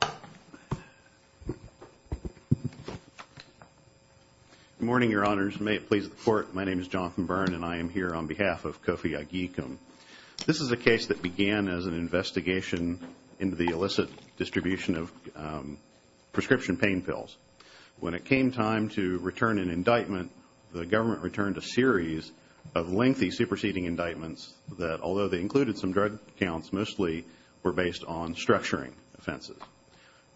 Good morning, Your Honors. May it please the Court, my name is Jonathan Byrne and I am here on behalf of Kofi Agyekum. This is a case that began as an investigation into the illicit distribution of prescription pain pills. When it came time to return an indictment, the government returned a series of lengthy superseding indictments that, although they were false, mostly were based on structuring offenses.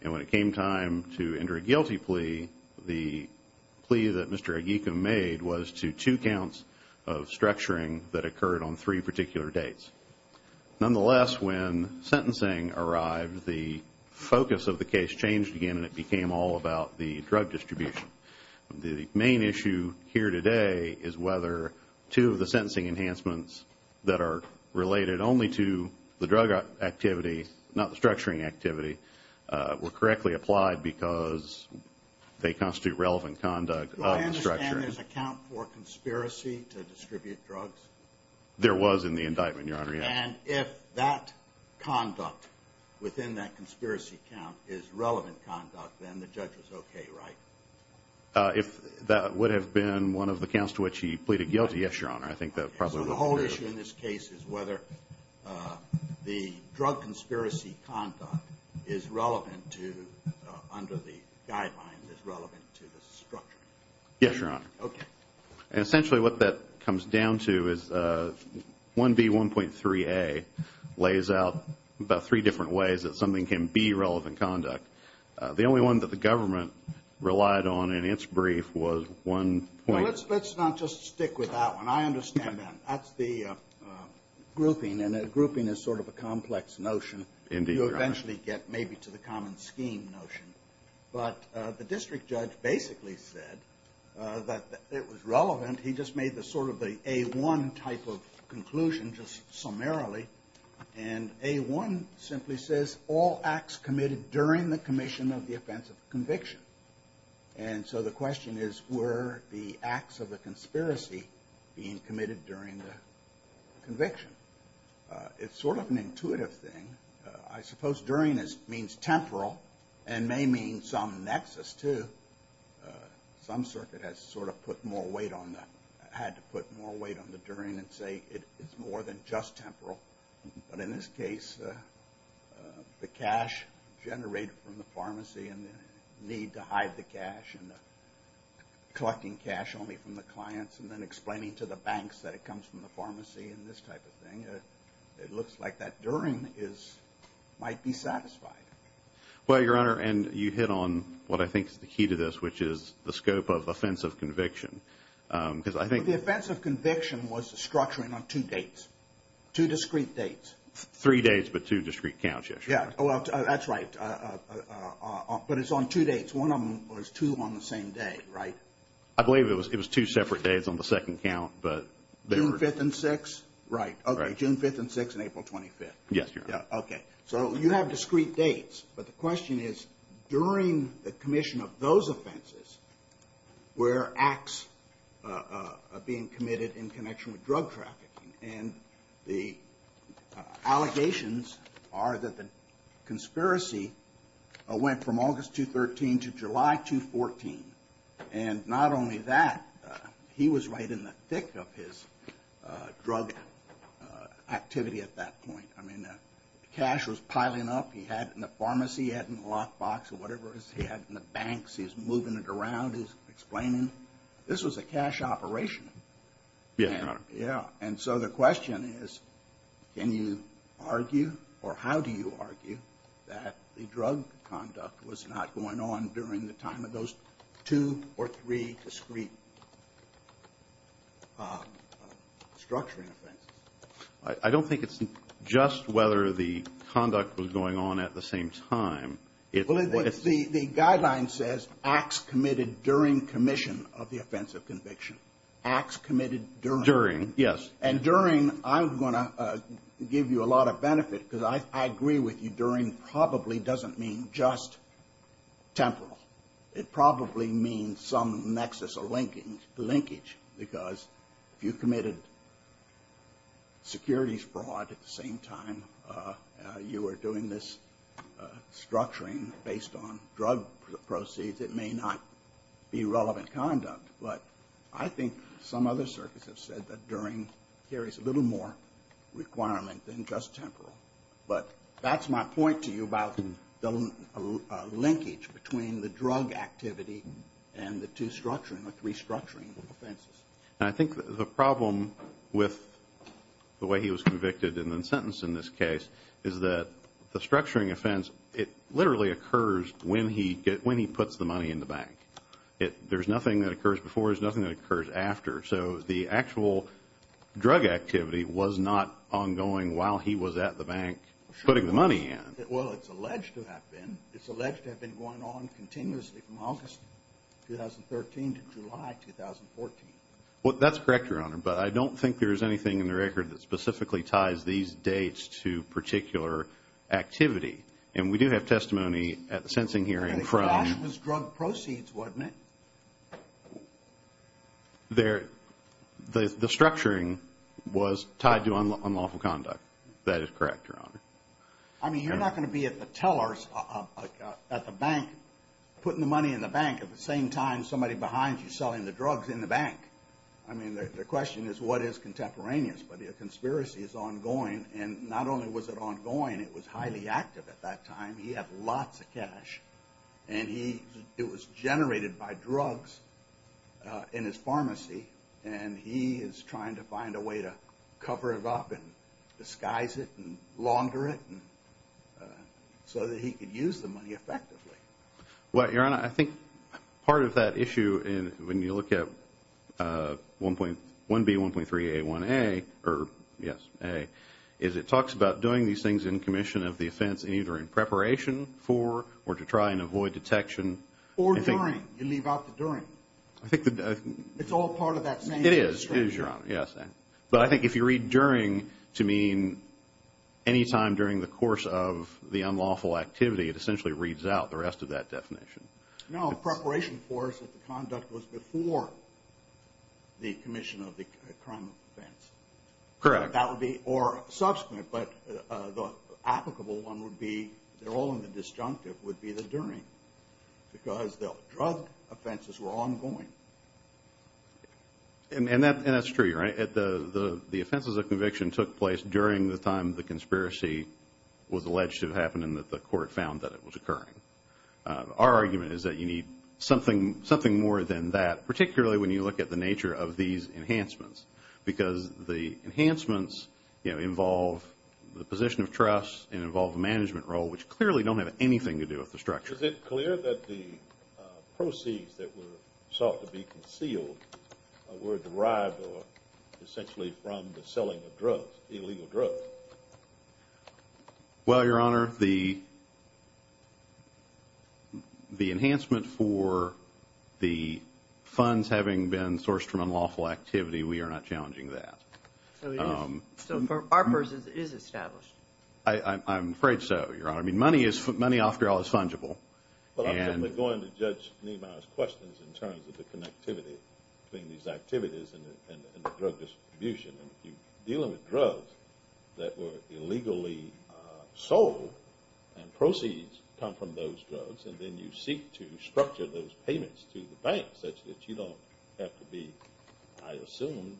When it came time to enter a guilty plea, the plea that Mr. Agyekum made was to two counts of structuring that occurred on three particular dates. Nonetheless, when sentencing arrived, the focus of the case changed again and it became all about the drug distribution. The main issue here today is whether two of the sentencing enhancements that are related only to the drug activity, not the structuring activity, were correctly applied because they constitute relevant conduct of the structuring. Do I understand there's a count for conspiracy to distribute drugs? There was in the indictment, Your Honor, yes. And if that conduct within that conspiracy count is relevant conduct, then the judge was okay, right? If that would have been one of the counts to which he pleaded guilty, yes, Your Honor, I think that probably would have been better. So the whole issue in this case is whether the drug conspiracy conduct is relevant to, under the guidelines, is relevant to the structuring? Yes, Your Honor. Okay. And essentially what that comes down to is 1B1.3a lays out about three different ways that something can be relevant conduct. The only one that the government relied on in its brief was one point. Now, let's not just stick with that one. I understand that. That's the grouping and a grouping is sort of a complex notion. Indeed, Your Honor. You eventually get maybe to the common scheme notion. But the district judge basically said that it was relevant. He just made the sort of the A1 type of conclusion just summarily. And A1 simply says all acts committed during the commission of the offense of conviction. And so the question is were the acts of the conspiracy being committed during the conviction? It's sort of an intuitive thing. I suppose during this means temporal and may mean some nexus too. Some circuit has sort of put more weight on the, had to put more weight on the during and say it's more than just temporal. But in this case, the cash generated from the pharmacy and the need to hide the cash and collecting cash only from the clients and then explaining to the banks that it comes from the pharmacy and this type of thing. It looks like that during is might be satisfied. Well, Your Honor, and you hit on what I think is the key to this, which is the scope of offensive conviction. Because I think the offense of conviction was structuring on two dates, two discrete dates, three days, but two discrete counts, yes, Your Honor. Yeah, well, that's right. But it's on two dates. One of them was two on the same day, right? I believe it was two separate days on the second count, but they were. June 5th and 6th? Right. Okay, June 5th and 6th and April 25th. Yes, Your Honor. Yeah, okay. So you have discrete dates, but the question is during the commission of those offenses, were acts being committed in connection with drug trafficking and the allegations are that the conspiracy went from August 2013 to July 2014. And not only that, he was right in the thick of his drug activity at that point. I mean, cash was piling up. He had it in the pharmacy. He had it in the lockbox or whatever it is he had in the banks. He's moving it around. He's explaining. This was a cash operation. Yes, Your Honor. Yeah. And so the question is, can you argue or how do you argue that the drug conduct was not going on during the time of those two or three discrete structuring offenses? I don't think it's just whether the conduct was going on at the same time. The guideline says acts committed during commission of the offensive conviction. Acts committed during. During, yes. And during, I'm going to give you a lot of benefit because I agree with you, during probably doesn't mean just temporal. It probably means some nexus or linkage because if you committed securities fraud at the same time you were doing this structuring based on drug proceeds, it may not be relevant conduct. But I think some other circuits have said that during carries a little more requirement than just temporal. But that's my point to you about the linkage between the drug activity and the two structuring or three structuring offenses. And I think the problem with the way he was convicted and then sentenced in this case is that the structuring offense, it literally occurs when he gets, when he puts the money in the bank. There's nothing that occurs before, there's nothing that occurs after. So the actual drug activity was not ongoing while he was at the bank putting the money in. Well, it's alleged to have been. It's alleged to have been going on continuously from August 2013 to July 2014. Well, that's correct, Your Honor. But I don't think there's anything in the record that specifically ties these dates to particular activity. And we do have testimony at the sensing hearing from... And it was drug proceeds, wasn't it? The structuring was tied to unlawful conduct. That is correct, Your Honor. I mean, you're not going to be at the tellers, at the bank, putting the money in the bank at the same time somebody behind you is selling the drugs in the bank. I mean, the question is, what is contemporaneous? But the conspiracy is ongoing. And not only was it ongoing, it was highly active at that time. He had lots of cash. And it was generated by drugs in his pharmacy. And he is trying to find a way to cover it up and disguise it and launder it so that he could use the money effectively. Well, Your Honor, I think part of that issue, when you look at 1B.1.3.A.1.A. or, yes, A, is it talks about doing these things in commission of the offense either in preparation for or to try and avoid detection. Or during. You leave out the during. It's all part of that same... It is. It is, Your Honor. Yes. But I think if you read during to mean any time during the course of the unlawful activity, it essentially reads out the rest of that definition. No. Preparation for is if the conduct was before the commission of the crime of offense. Correct. That would be, or subsequent, but the applicable one would be, they're all in the disjunctive, would be the during. Because the drug offenses were ongoing. And that's true, Your Honor. The offenses of conviction took place during the time the conspiracy was alleged to have happened and that the court found that it was occurring. Our argument is that you need something more than that, particularly when you look at the nature of these enhancements. Because the enhancements involve the position of trust and involve the management role, which clearly don't have anything to do with the structure. Is it clear that the proceeds that were sought to be concealed were derived essentially from the selling of drugs, illegal drugs? Well, Your Honor, the enhancement for the funds having been sourced from unlawful activity, we are not challenging that. So for our purpose, it is established. I'm afraid so, Your Honor. I mean, money, after all, is fungible. Well, I'm simply going to judge Nehemiah's questions in terms of the connectivity between these activities and the drug distribution. If you're dealing with drugs that were illegally sold, and proceeds come from those drugs, and then you seek to structure those payments to the banks such that you don't have to be, I assume,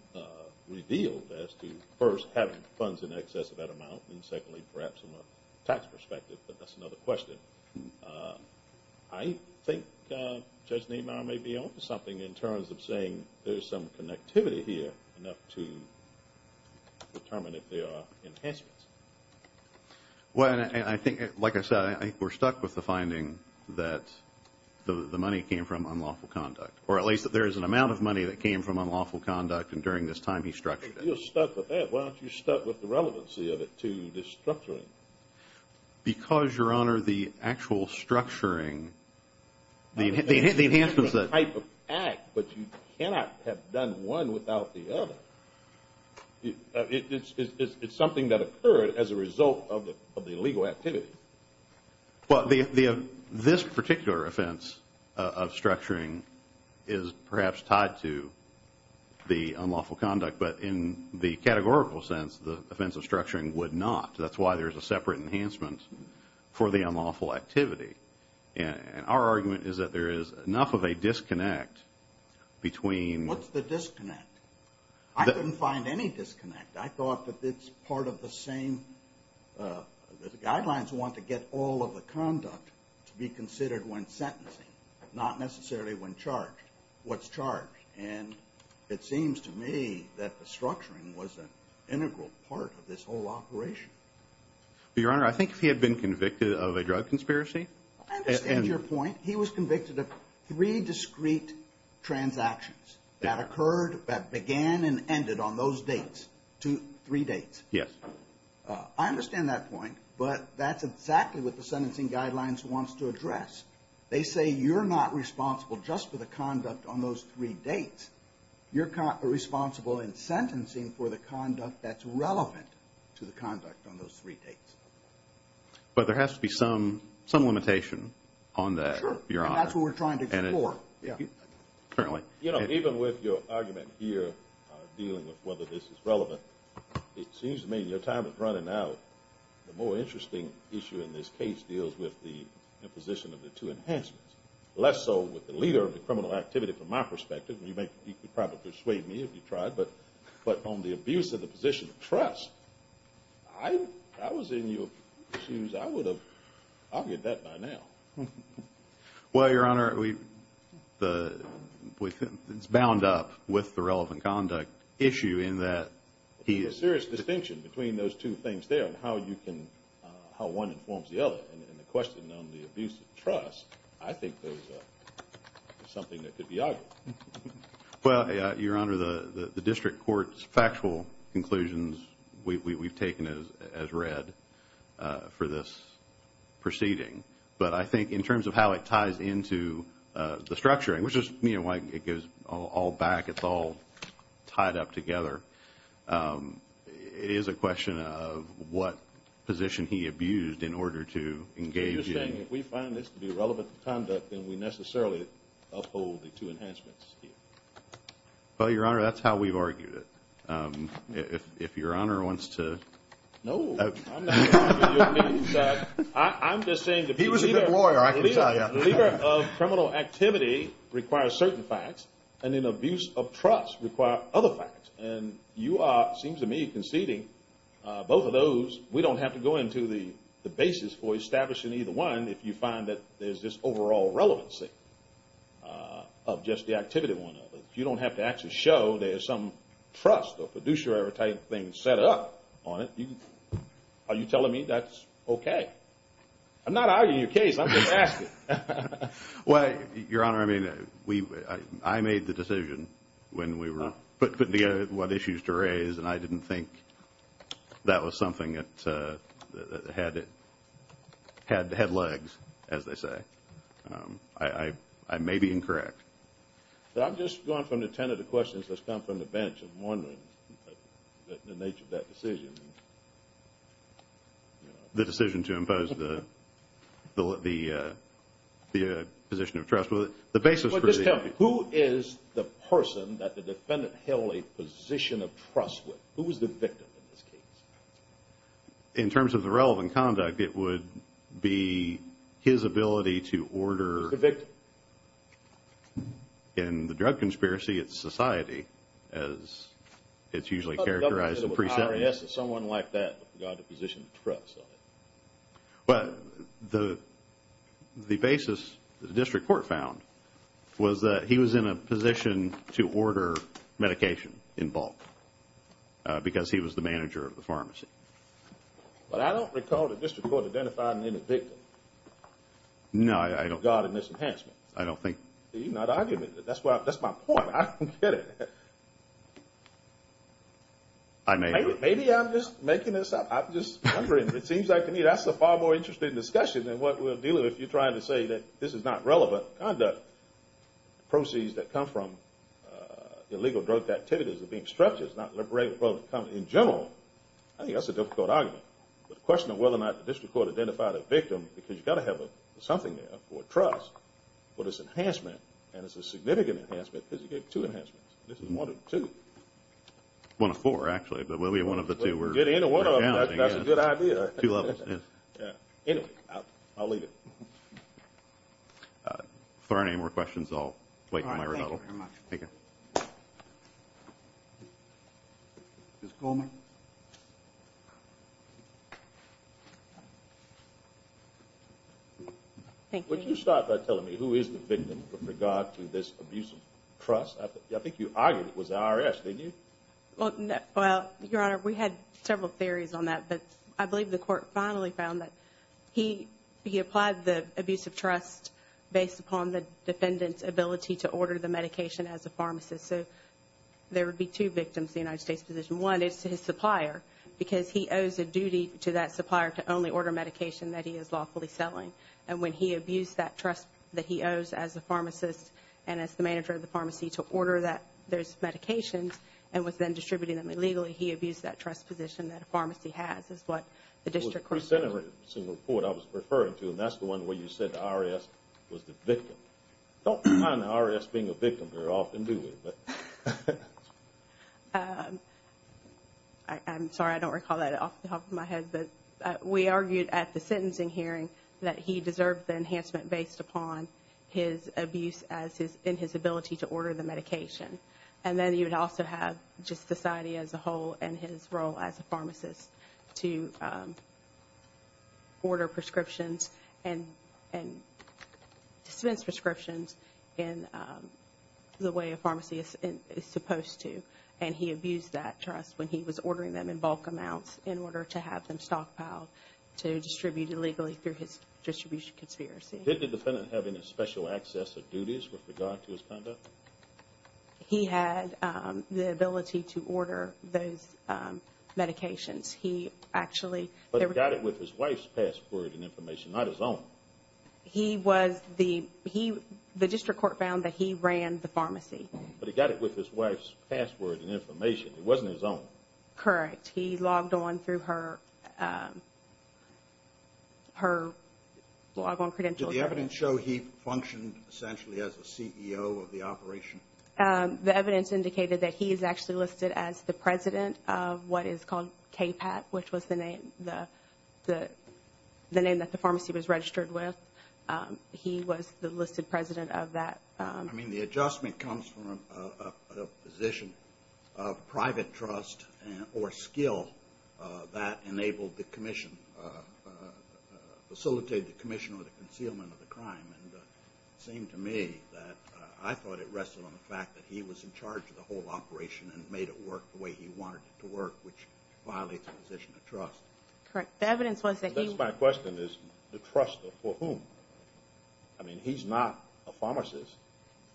revealed as to first having funds in excess of that amount and secondly, perhaps from a tax perspective, but that's another question. I think Judge Nehemiah may be on to something in terms of saying there's some connectivity here enough to determine if there are enhancements. Well, and I think, like I said, I think we're stuck with the finding that the money came from unlawful conduct, or at least that there is an amount of money that came from unlawful conduct and during this time he structured it. Well, if you're stuck with that, why don't you start with the relevancy of it to this structuring? Because, Your Honor, the actual structuring, the enhancements that… It's a type of act, but you cannot have done one without the other. It's something that occurred as a result of the illegal activity. Well, this particular offense of structuring is perhaps tied to the unlawful conduct, but in the categorical sense, the offense of structuring would not. That's why there's a separate enhancement for the unlawful activity. And our argument is that there is enough of a disconnect between… What's the disconnect? I couldn't find any disconnect. I thought that it's part of the same… The guidelines want to get all of the conduct to be considered when sentencing, not necessarily when charged. What's charged? And it seems to me that the structuring was an integral part of this whole operation. Well, Your Honor, I think if he had been convicted of a drug conspiracy… I understand your point. He was convicted of three discrete transactions that occurred, that began and ended on those dates. Three dates. Yes. I understand that point, but that's exactly what the sentencing guidelines wants to address. They say you're not responsible just for the conduct on those three dates. You're responsible in sentencing for the conduct that's relevant to the conduct on those three dates. But there has to be some limitation on that, Your Honor. Sure. And that's what we're trying to explore. Yeah. Apparently. You know, even with your argument here dealing with whether this is relevant, it seems to me your time is running out. The more interesting issue in this case deals with the imposition of the two enhancements, less so with the leader of the criminal activity from my perspective. You could probably persuade me if you tried. But on the abuse of the position of trust, I was in your shoes. I would have argued that by now. Well, Your Honor, it's bound up with the relevant conduct issue in that… There's a serious distinction between those two things there and how one informs the other. And the question on the abuse of trust, I think there's something that could be argued. Well, Your Honor, the district court's factual conclusions we've taken as read for this proceeding. But I think in terms of how it ties into the structuring, which is why it goes all back, it's all tied up together, it is a question of what position he abused in order to engage in… Well, Your Honor, that's how we've argued it. If Your Honor wants to… No, I'm not arguing your case. I'm just saying that… He was a good lawyer, I can tell you. Leader of criminal activity requires certain facts, and in abuse of trust require other facts. And you are, it seems to me, conceding both of those. We don't have to go into the basis for establishing either one if you find that there's this overall relevancy of just the activity one. If you don't have to actually show there's some trust or producer-type thing set up on it, are you telling me that's okay? I'm not arguing your case. I'm just asking. Well, Your Honor, I made the decision when we were putting together what issues to raise, and I didn't think that was something that had the head legs, as they say. I may be incorrect. I'm just going from the ten of the questions that's come from the bench and wondering the nature of that decision. The decision to impose the position of trust. Just tell me, who is the person that the defendant held a position of trust with? Who was the victim in this case? In terms of the relevant conduct, it would be his ability to order. Who's the victim? In the drug conspiracy, it's society, as it's usually characterized in pre-sentence. Someone like that got a position of trust. Well, the basis the district court found was that he was in a position to order medication in bulk because he was the manager of the pharmacy. But I don't recall the district court identifying any victim. No, I don't. With regard to mishandling. I don't think. You're not arguing. That's my point. I don't get it. Maybe I'm just making this up. I'm just wondering. It seems like to me that's a far more interesting discussion than what we're dealing with. You're trying to say that this is not relevant conduct. Proceeds that come from illegal drug activities are being structured. It's not liberating in general. I think that's a difficult argument. The question of whether or not the district court identified a victim, because you've got to have something there for trust. But it's an enhancement, and it's a significant enhancement, because you get two enhancements. This is one of two. One of four, actually. One of the two. That's a good idea. Two levels. Anyway, I'll leave it. If there are any more questions, I'll wait in my rebuttal. Thank you very much. Thank you. Ms. Coleman? Thank you. Would you start by telling me who is the victim with regard to this abuse of trust? I think you argued it was the IRS, didn't you? Well, Your Honor, we had several theories on that. But I believe the court finally found that he applied the abuse of trust based upon the defendant's ability to order the medication as a pharmacist. So there would be two victims in the United States position. One is his supplier, because he owes a duty to that supplier to only order medication that he is lawfully selling. And when he abused that trust that he owes as a pharmacist and as the manager of the pharmacy to order those medications and was then distributing them illegally, he abused that trust position that a pharmacy has, is what the district court said. It was a pre-sentencing report I was referring to, and that's the one where you said the IRS was the victim. Don't mind the IRS being a victim very often, do we? I'm sorry. I don't recall that off the top of my head. But we argued at the sentencing hearing that he deserved the enhancement based upon his abuse and his ability to order the medication. And then he would also have just society as a whole and his role as a pharmacist to order prescriptions and dispense prescriptions in the way a pharmacy is supposed to. And he abused that trust when he was ordering them in bulk amounts in order to have them stockpiled to distribute illegally through his distribution conspiracy. Did the defendant have any special access or duties with regard to his conduct? He had the ability to order those medications. He actually – But he got it with his wife's password and information, not his own. He was the – the district court found that he ran the pharmacy. But he got it with his wife's password and information. It wasn't his own. Correct. He logged on through her log-on credentials. Did the evidence show he functioned essentially as a CEO of the operation? The evidence indicated that he is actually listed as the president of what is called KPAT, which was the name that the pharmacy was registered with. He was the listed president of that. I mean, the adjustment comes from a position of private trust or skill that enabled the commission – facilitated the commission or the concealment of the crime. And it seemed to me that I thought it rested on the fact that he was in charge of the whole operation and made it work the way he wanted it to work, which violates the position of trust. Correct. The evidence was that he – That's my question is the trust for whom? I mean, he's not a pharmacist.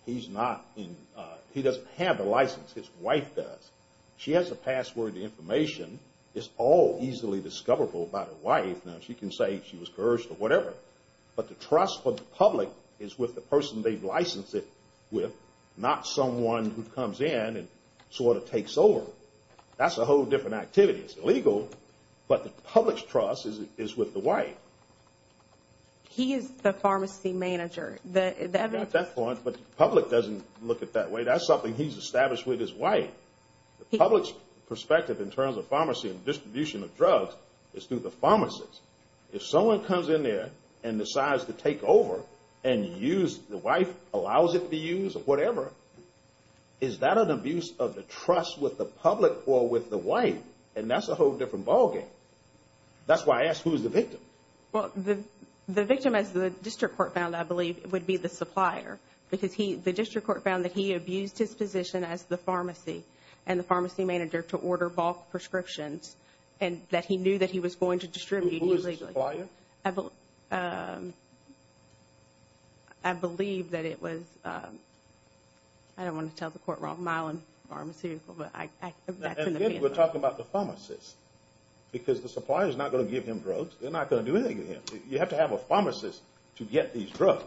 He's not in – he doesn't have a license. His wife does. She has the password, the information. It's all easily discoverable by the wife. Now, she can say she was coerced or whatever. But the trust for the public is with the person they've licensed it with, not someone who comes in and sort of takes over. That's a whole different activity. It's illegal, but the public's trust is with the wife. He is the pharmacy manager. The evidence – You got that point, but the public doesn't look at it that way. That's something he's established with his wife. The public's perspective in terms of pharmacy and distribution of drugs is through the pharmacist. If someone comes in there and decides to take over and use – the wife allows it to be used or whatever, is that an abuse of the trust with the public or with the wife? And that's a whole different ballgame. That's why I asked who's the victim. Well, the victim, as the district court found, I believe, would be the supplier because the district court found that he abused his position as the pharmacy and the pharmacy manager to order bulk prescriptions and that he knew that he was going to distribute illegally. Who is the supplier? I believe that it was – I don't want to tell the court wrong. Mylon Pharmaceutical, but that's in the past. We're talking about the pharmacist because the supplier is not going to give him drugs. They're not going to do anything to him. You have to have a pharmacist to get these drugs,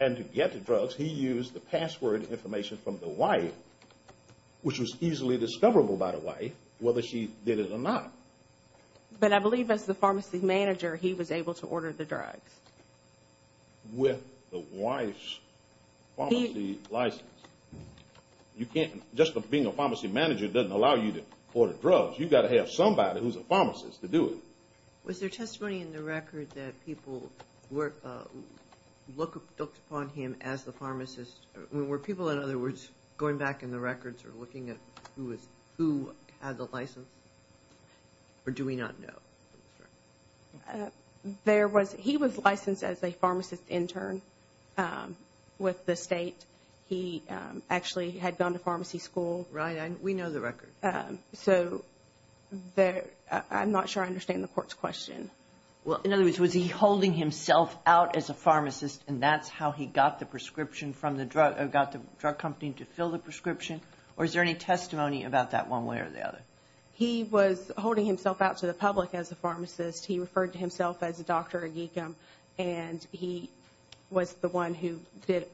and to get the drugs, he used the password information from the wife, which was easily discoverable by the wife, whether she did it or not. But I believe as the pharmacy manager, he was able to order the drugs. With the wife's pharmacy license. Just being a pharmacy manager doesn't allow you to order drugs. You've got to have somebody who's a pharmacist to do it. Was there testimony in the record that people looked upon him as the pharmacist? Were people, in other words, going back in the records or looking at who had the license, or do we not know? He was licensed as a pharmacist intern with the state. He actually had gone to pharmacy school. Right, we know the record. So I'm not sure I understand the court's question. In other words, was he holding himself out as a pharmacist, and that's how he got the drug company to fill the prescription, or is there any testimony about that one way or the other? He was holding himself out to the public as a pharmacist. He referred to himself as Dr. Aguigam, and he was the one who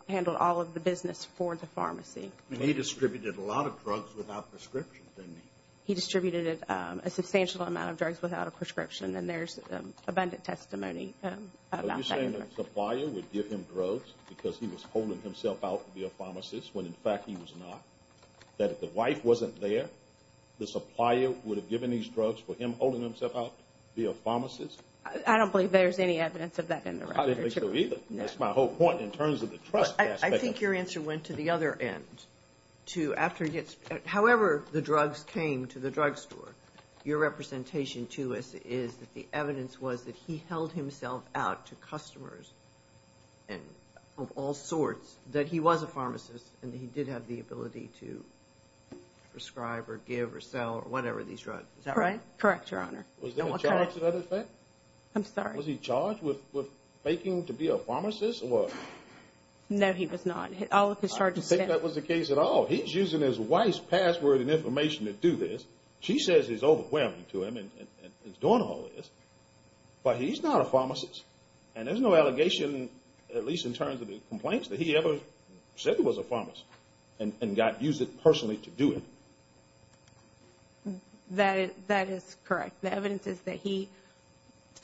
handled all of the business for the pharmacy. And he distributed a lot of drugs without prescription, didn't he? He distributed a substantial amount of drugs without a prescription, and there's abundant testimony about that. Are you saying that the supplier would give him drugs because he was holding himself out to be a pharmacist when, in fact, he was not? I don't believe there's any evidence of that in the record. I didn't make sure either. That's my whole point in terms of the trust aspect of it. I think your answer went to the other end. However the drugs came to the drug store, your representation to us is that the evidence was that he held himself out to customers of all sorts, that he was a pharmacist, and that he did have the ability to prescribe or give or sell or whatever these drugs. Is that right? Correct, Your Honor. Was there a charge to that effect? I'm sorry. Was he charged with faking to be a pharmacist or what? No, he was not. I don't think that was the case at all. He's using his wife's password and information to do this. She says it's overwhelming to him and he's doing all this, but he's not a pharmacist. And there's no allegation, at least in terms of the complaints, that he ever said he was a pharmacist and used it personally to do it. That is correct. The evidence is that he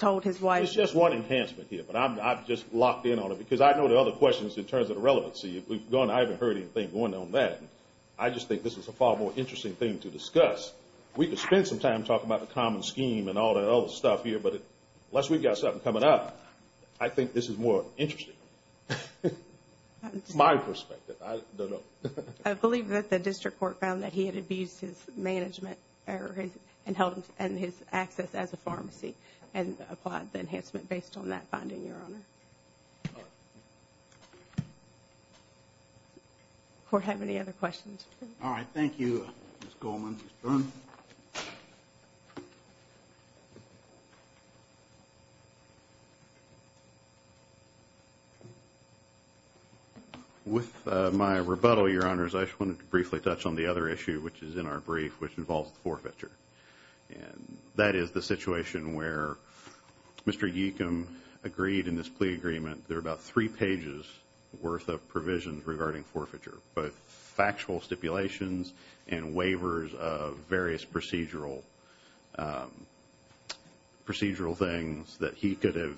told his wife. There's just one enhancement here, but I'm just locked in on it because I know the other questions in terms of the relevancy. I haven't heard anything going on there. I just think this is a far more interesting thing to discuss. We could spend some time talking about the common scheme and all that other stuff here, but unless we've got something coming up, I think this is more interesting. That's my perspective. I don't know. I believe that the district court found that he had abused his management and his access as a pharmacy and applied the enhancement based on that finding, Your Honor. All right. We don't have any other questions. All right. Thank you, Ms. Goldman. Ms. Dunn. With my rebuttal, Your Honors, I just wanted to briefly touch on the other issue, which is in our brief, which involves forfeiture. That is the situation where Mr. Yeakam agreed in this plea agreement, there are about three pages worth of provisions regarding forfeiture, both factual stipulations and waivers of various procedural things that he could have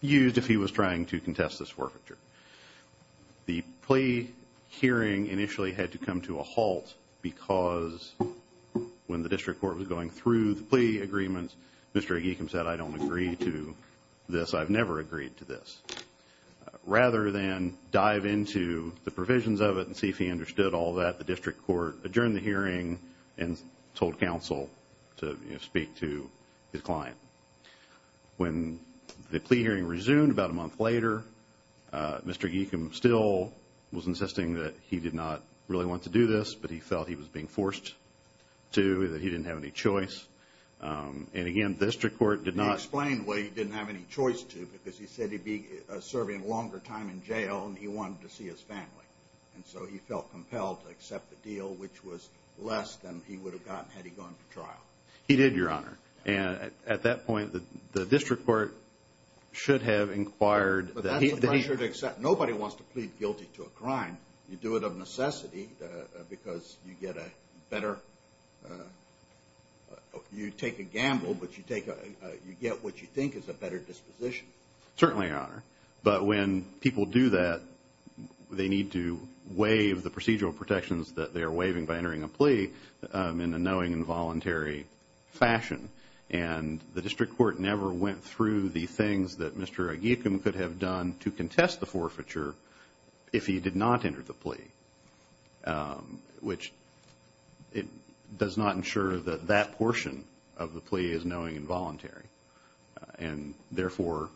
used if he was trying to contest this forfeiture. The plea hearing initially had to come to a halt because when the district court was going through the plea agreement, Mr. Yeakam said, I don't agree to this. I've never agreed to this. Rather than dive into the provisions of it and see if he understood all that, the district court adjourned the hearing and told counsel to speak to his client. When the plea hearing resumed about a month later, Mr. Yeakam still was insisting that he did not really want to do this, but he felt he was being forced to, that he didn't have any choice. And, again, the district court did not. I explained, well, he didn't have any choice to because he said he'd be serving a longer time in jail and he wanted to see his family. And so he felt compelled to accept the deal, which was less than he would have gotten had he gone to trial. He did, Your Honor. And at that point, the district court should have inquired. But that's a pressure to accept. Nobody wants to plead guilty to a crime. And you do it of necessity because you get a better, you take a gamble, but you get what you think is a better disposition. Certainly, Your Honor. But when people do that, they need to waive the procedural protections that they are waiving by entering a plea in a knowing and voluntary fashion. And the district court never went through the things that Mr. Yeakam could have done to contest the forfeiture if he did not enter the plea, which does not ensure that that portion of the plea is knowing and voluntary. And, therefore,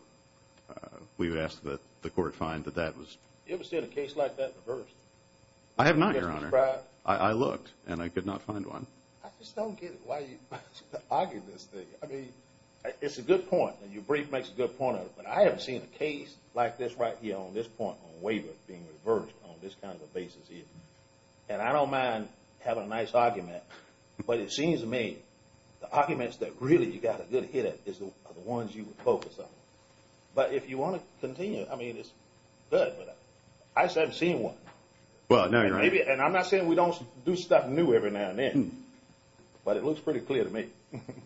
we would ask that the court find that that was. You ever see a case like that reversed? I have not, Your Honor. I looked and I could not find one. I just don't get it. Why are you arguing this thing? I mean, it's a good point, and your brief makes a good point of it, but I haven't seen a case like this right here on this point on waiver being reversed on this kind of a basis either. And I don't mind having a nice argument, but it seems to me the arguments that really you got a good hit at are the ones you would focus on. But if you want to continue, I mean, it's good, but I just haven't seen one. Well, now you're right. And I'm not saying we don't do stuff new every now and then, but it looks pretty clear to me.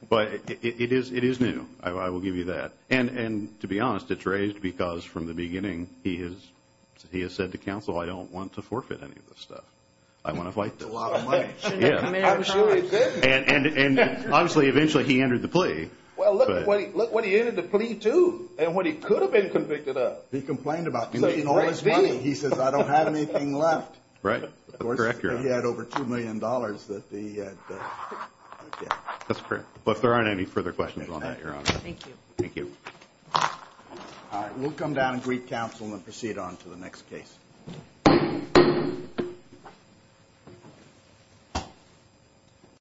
But it is new. I will give you that. And to be honest, it's raised because from the beginning he has said to counsel, I don't want to forfeit any of this stuff. I want to fight this. That's a lot of money. And obviously eventually he entered the plea. Well, look what he entered the plea to and what he could have been convicted of. He complained about it. He's making all this money. He says, I don't have anything left. Right. Of course, he had over $2 million that he had. That's correct. But if there aren't any further questions on that, Your Honor. Thank you. Thank you. All right. We'll come down and greet counsel and proceed on to the next case.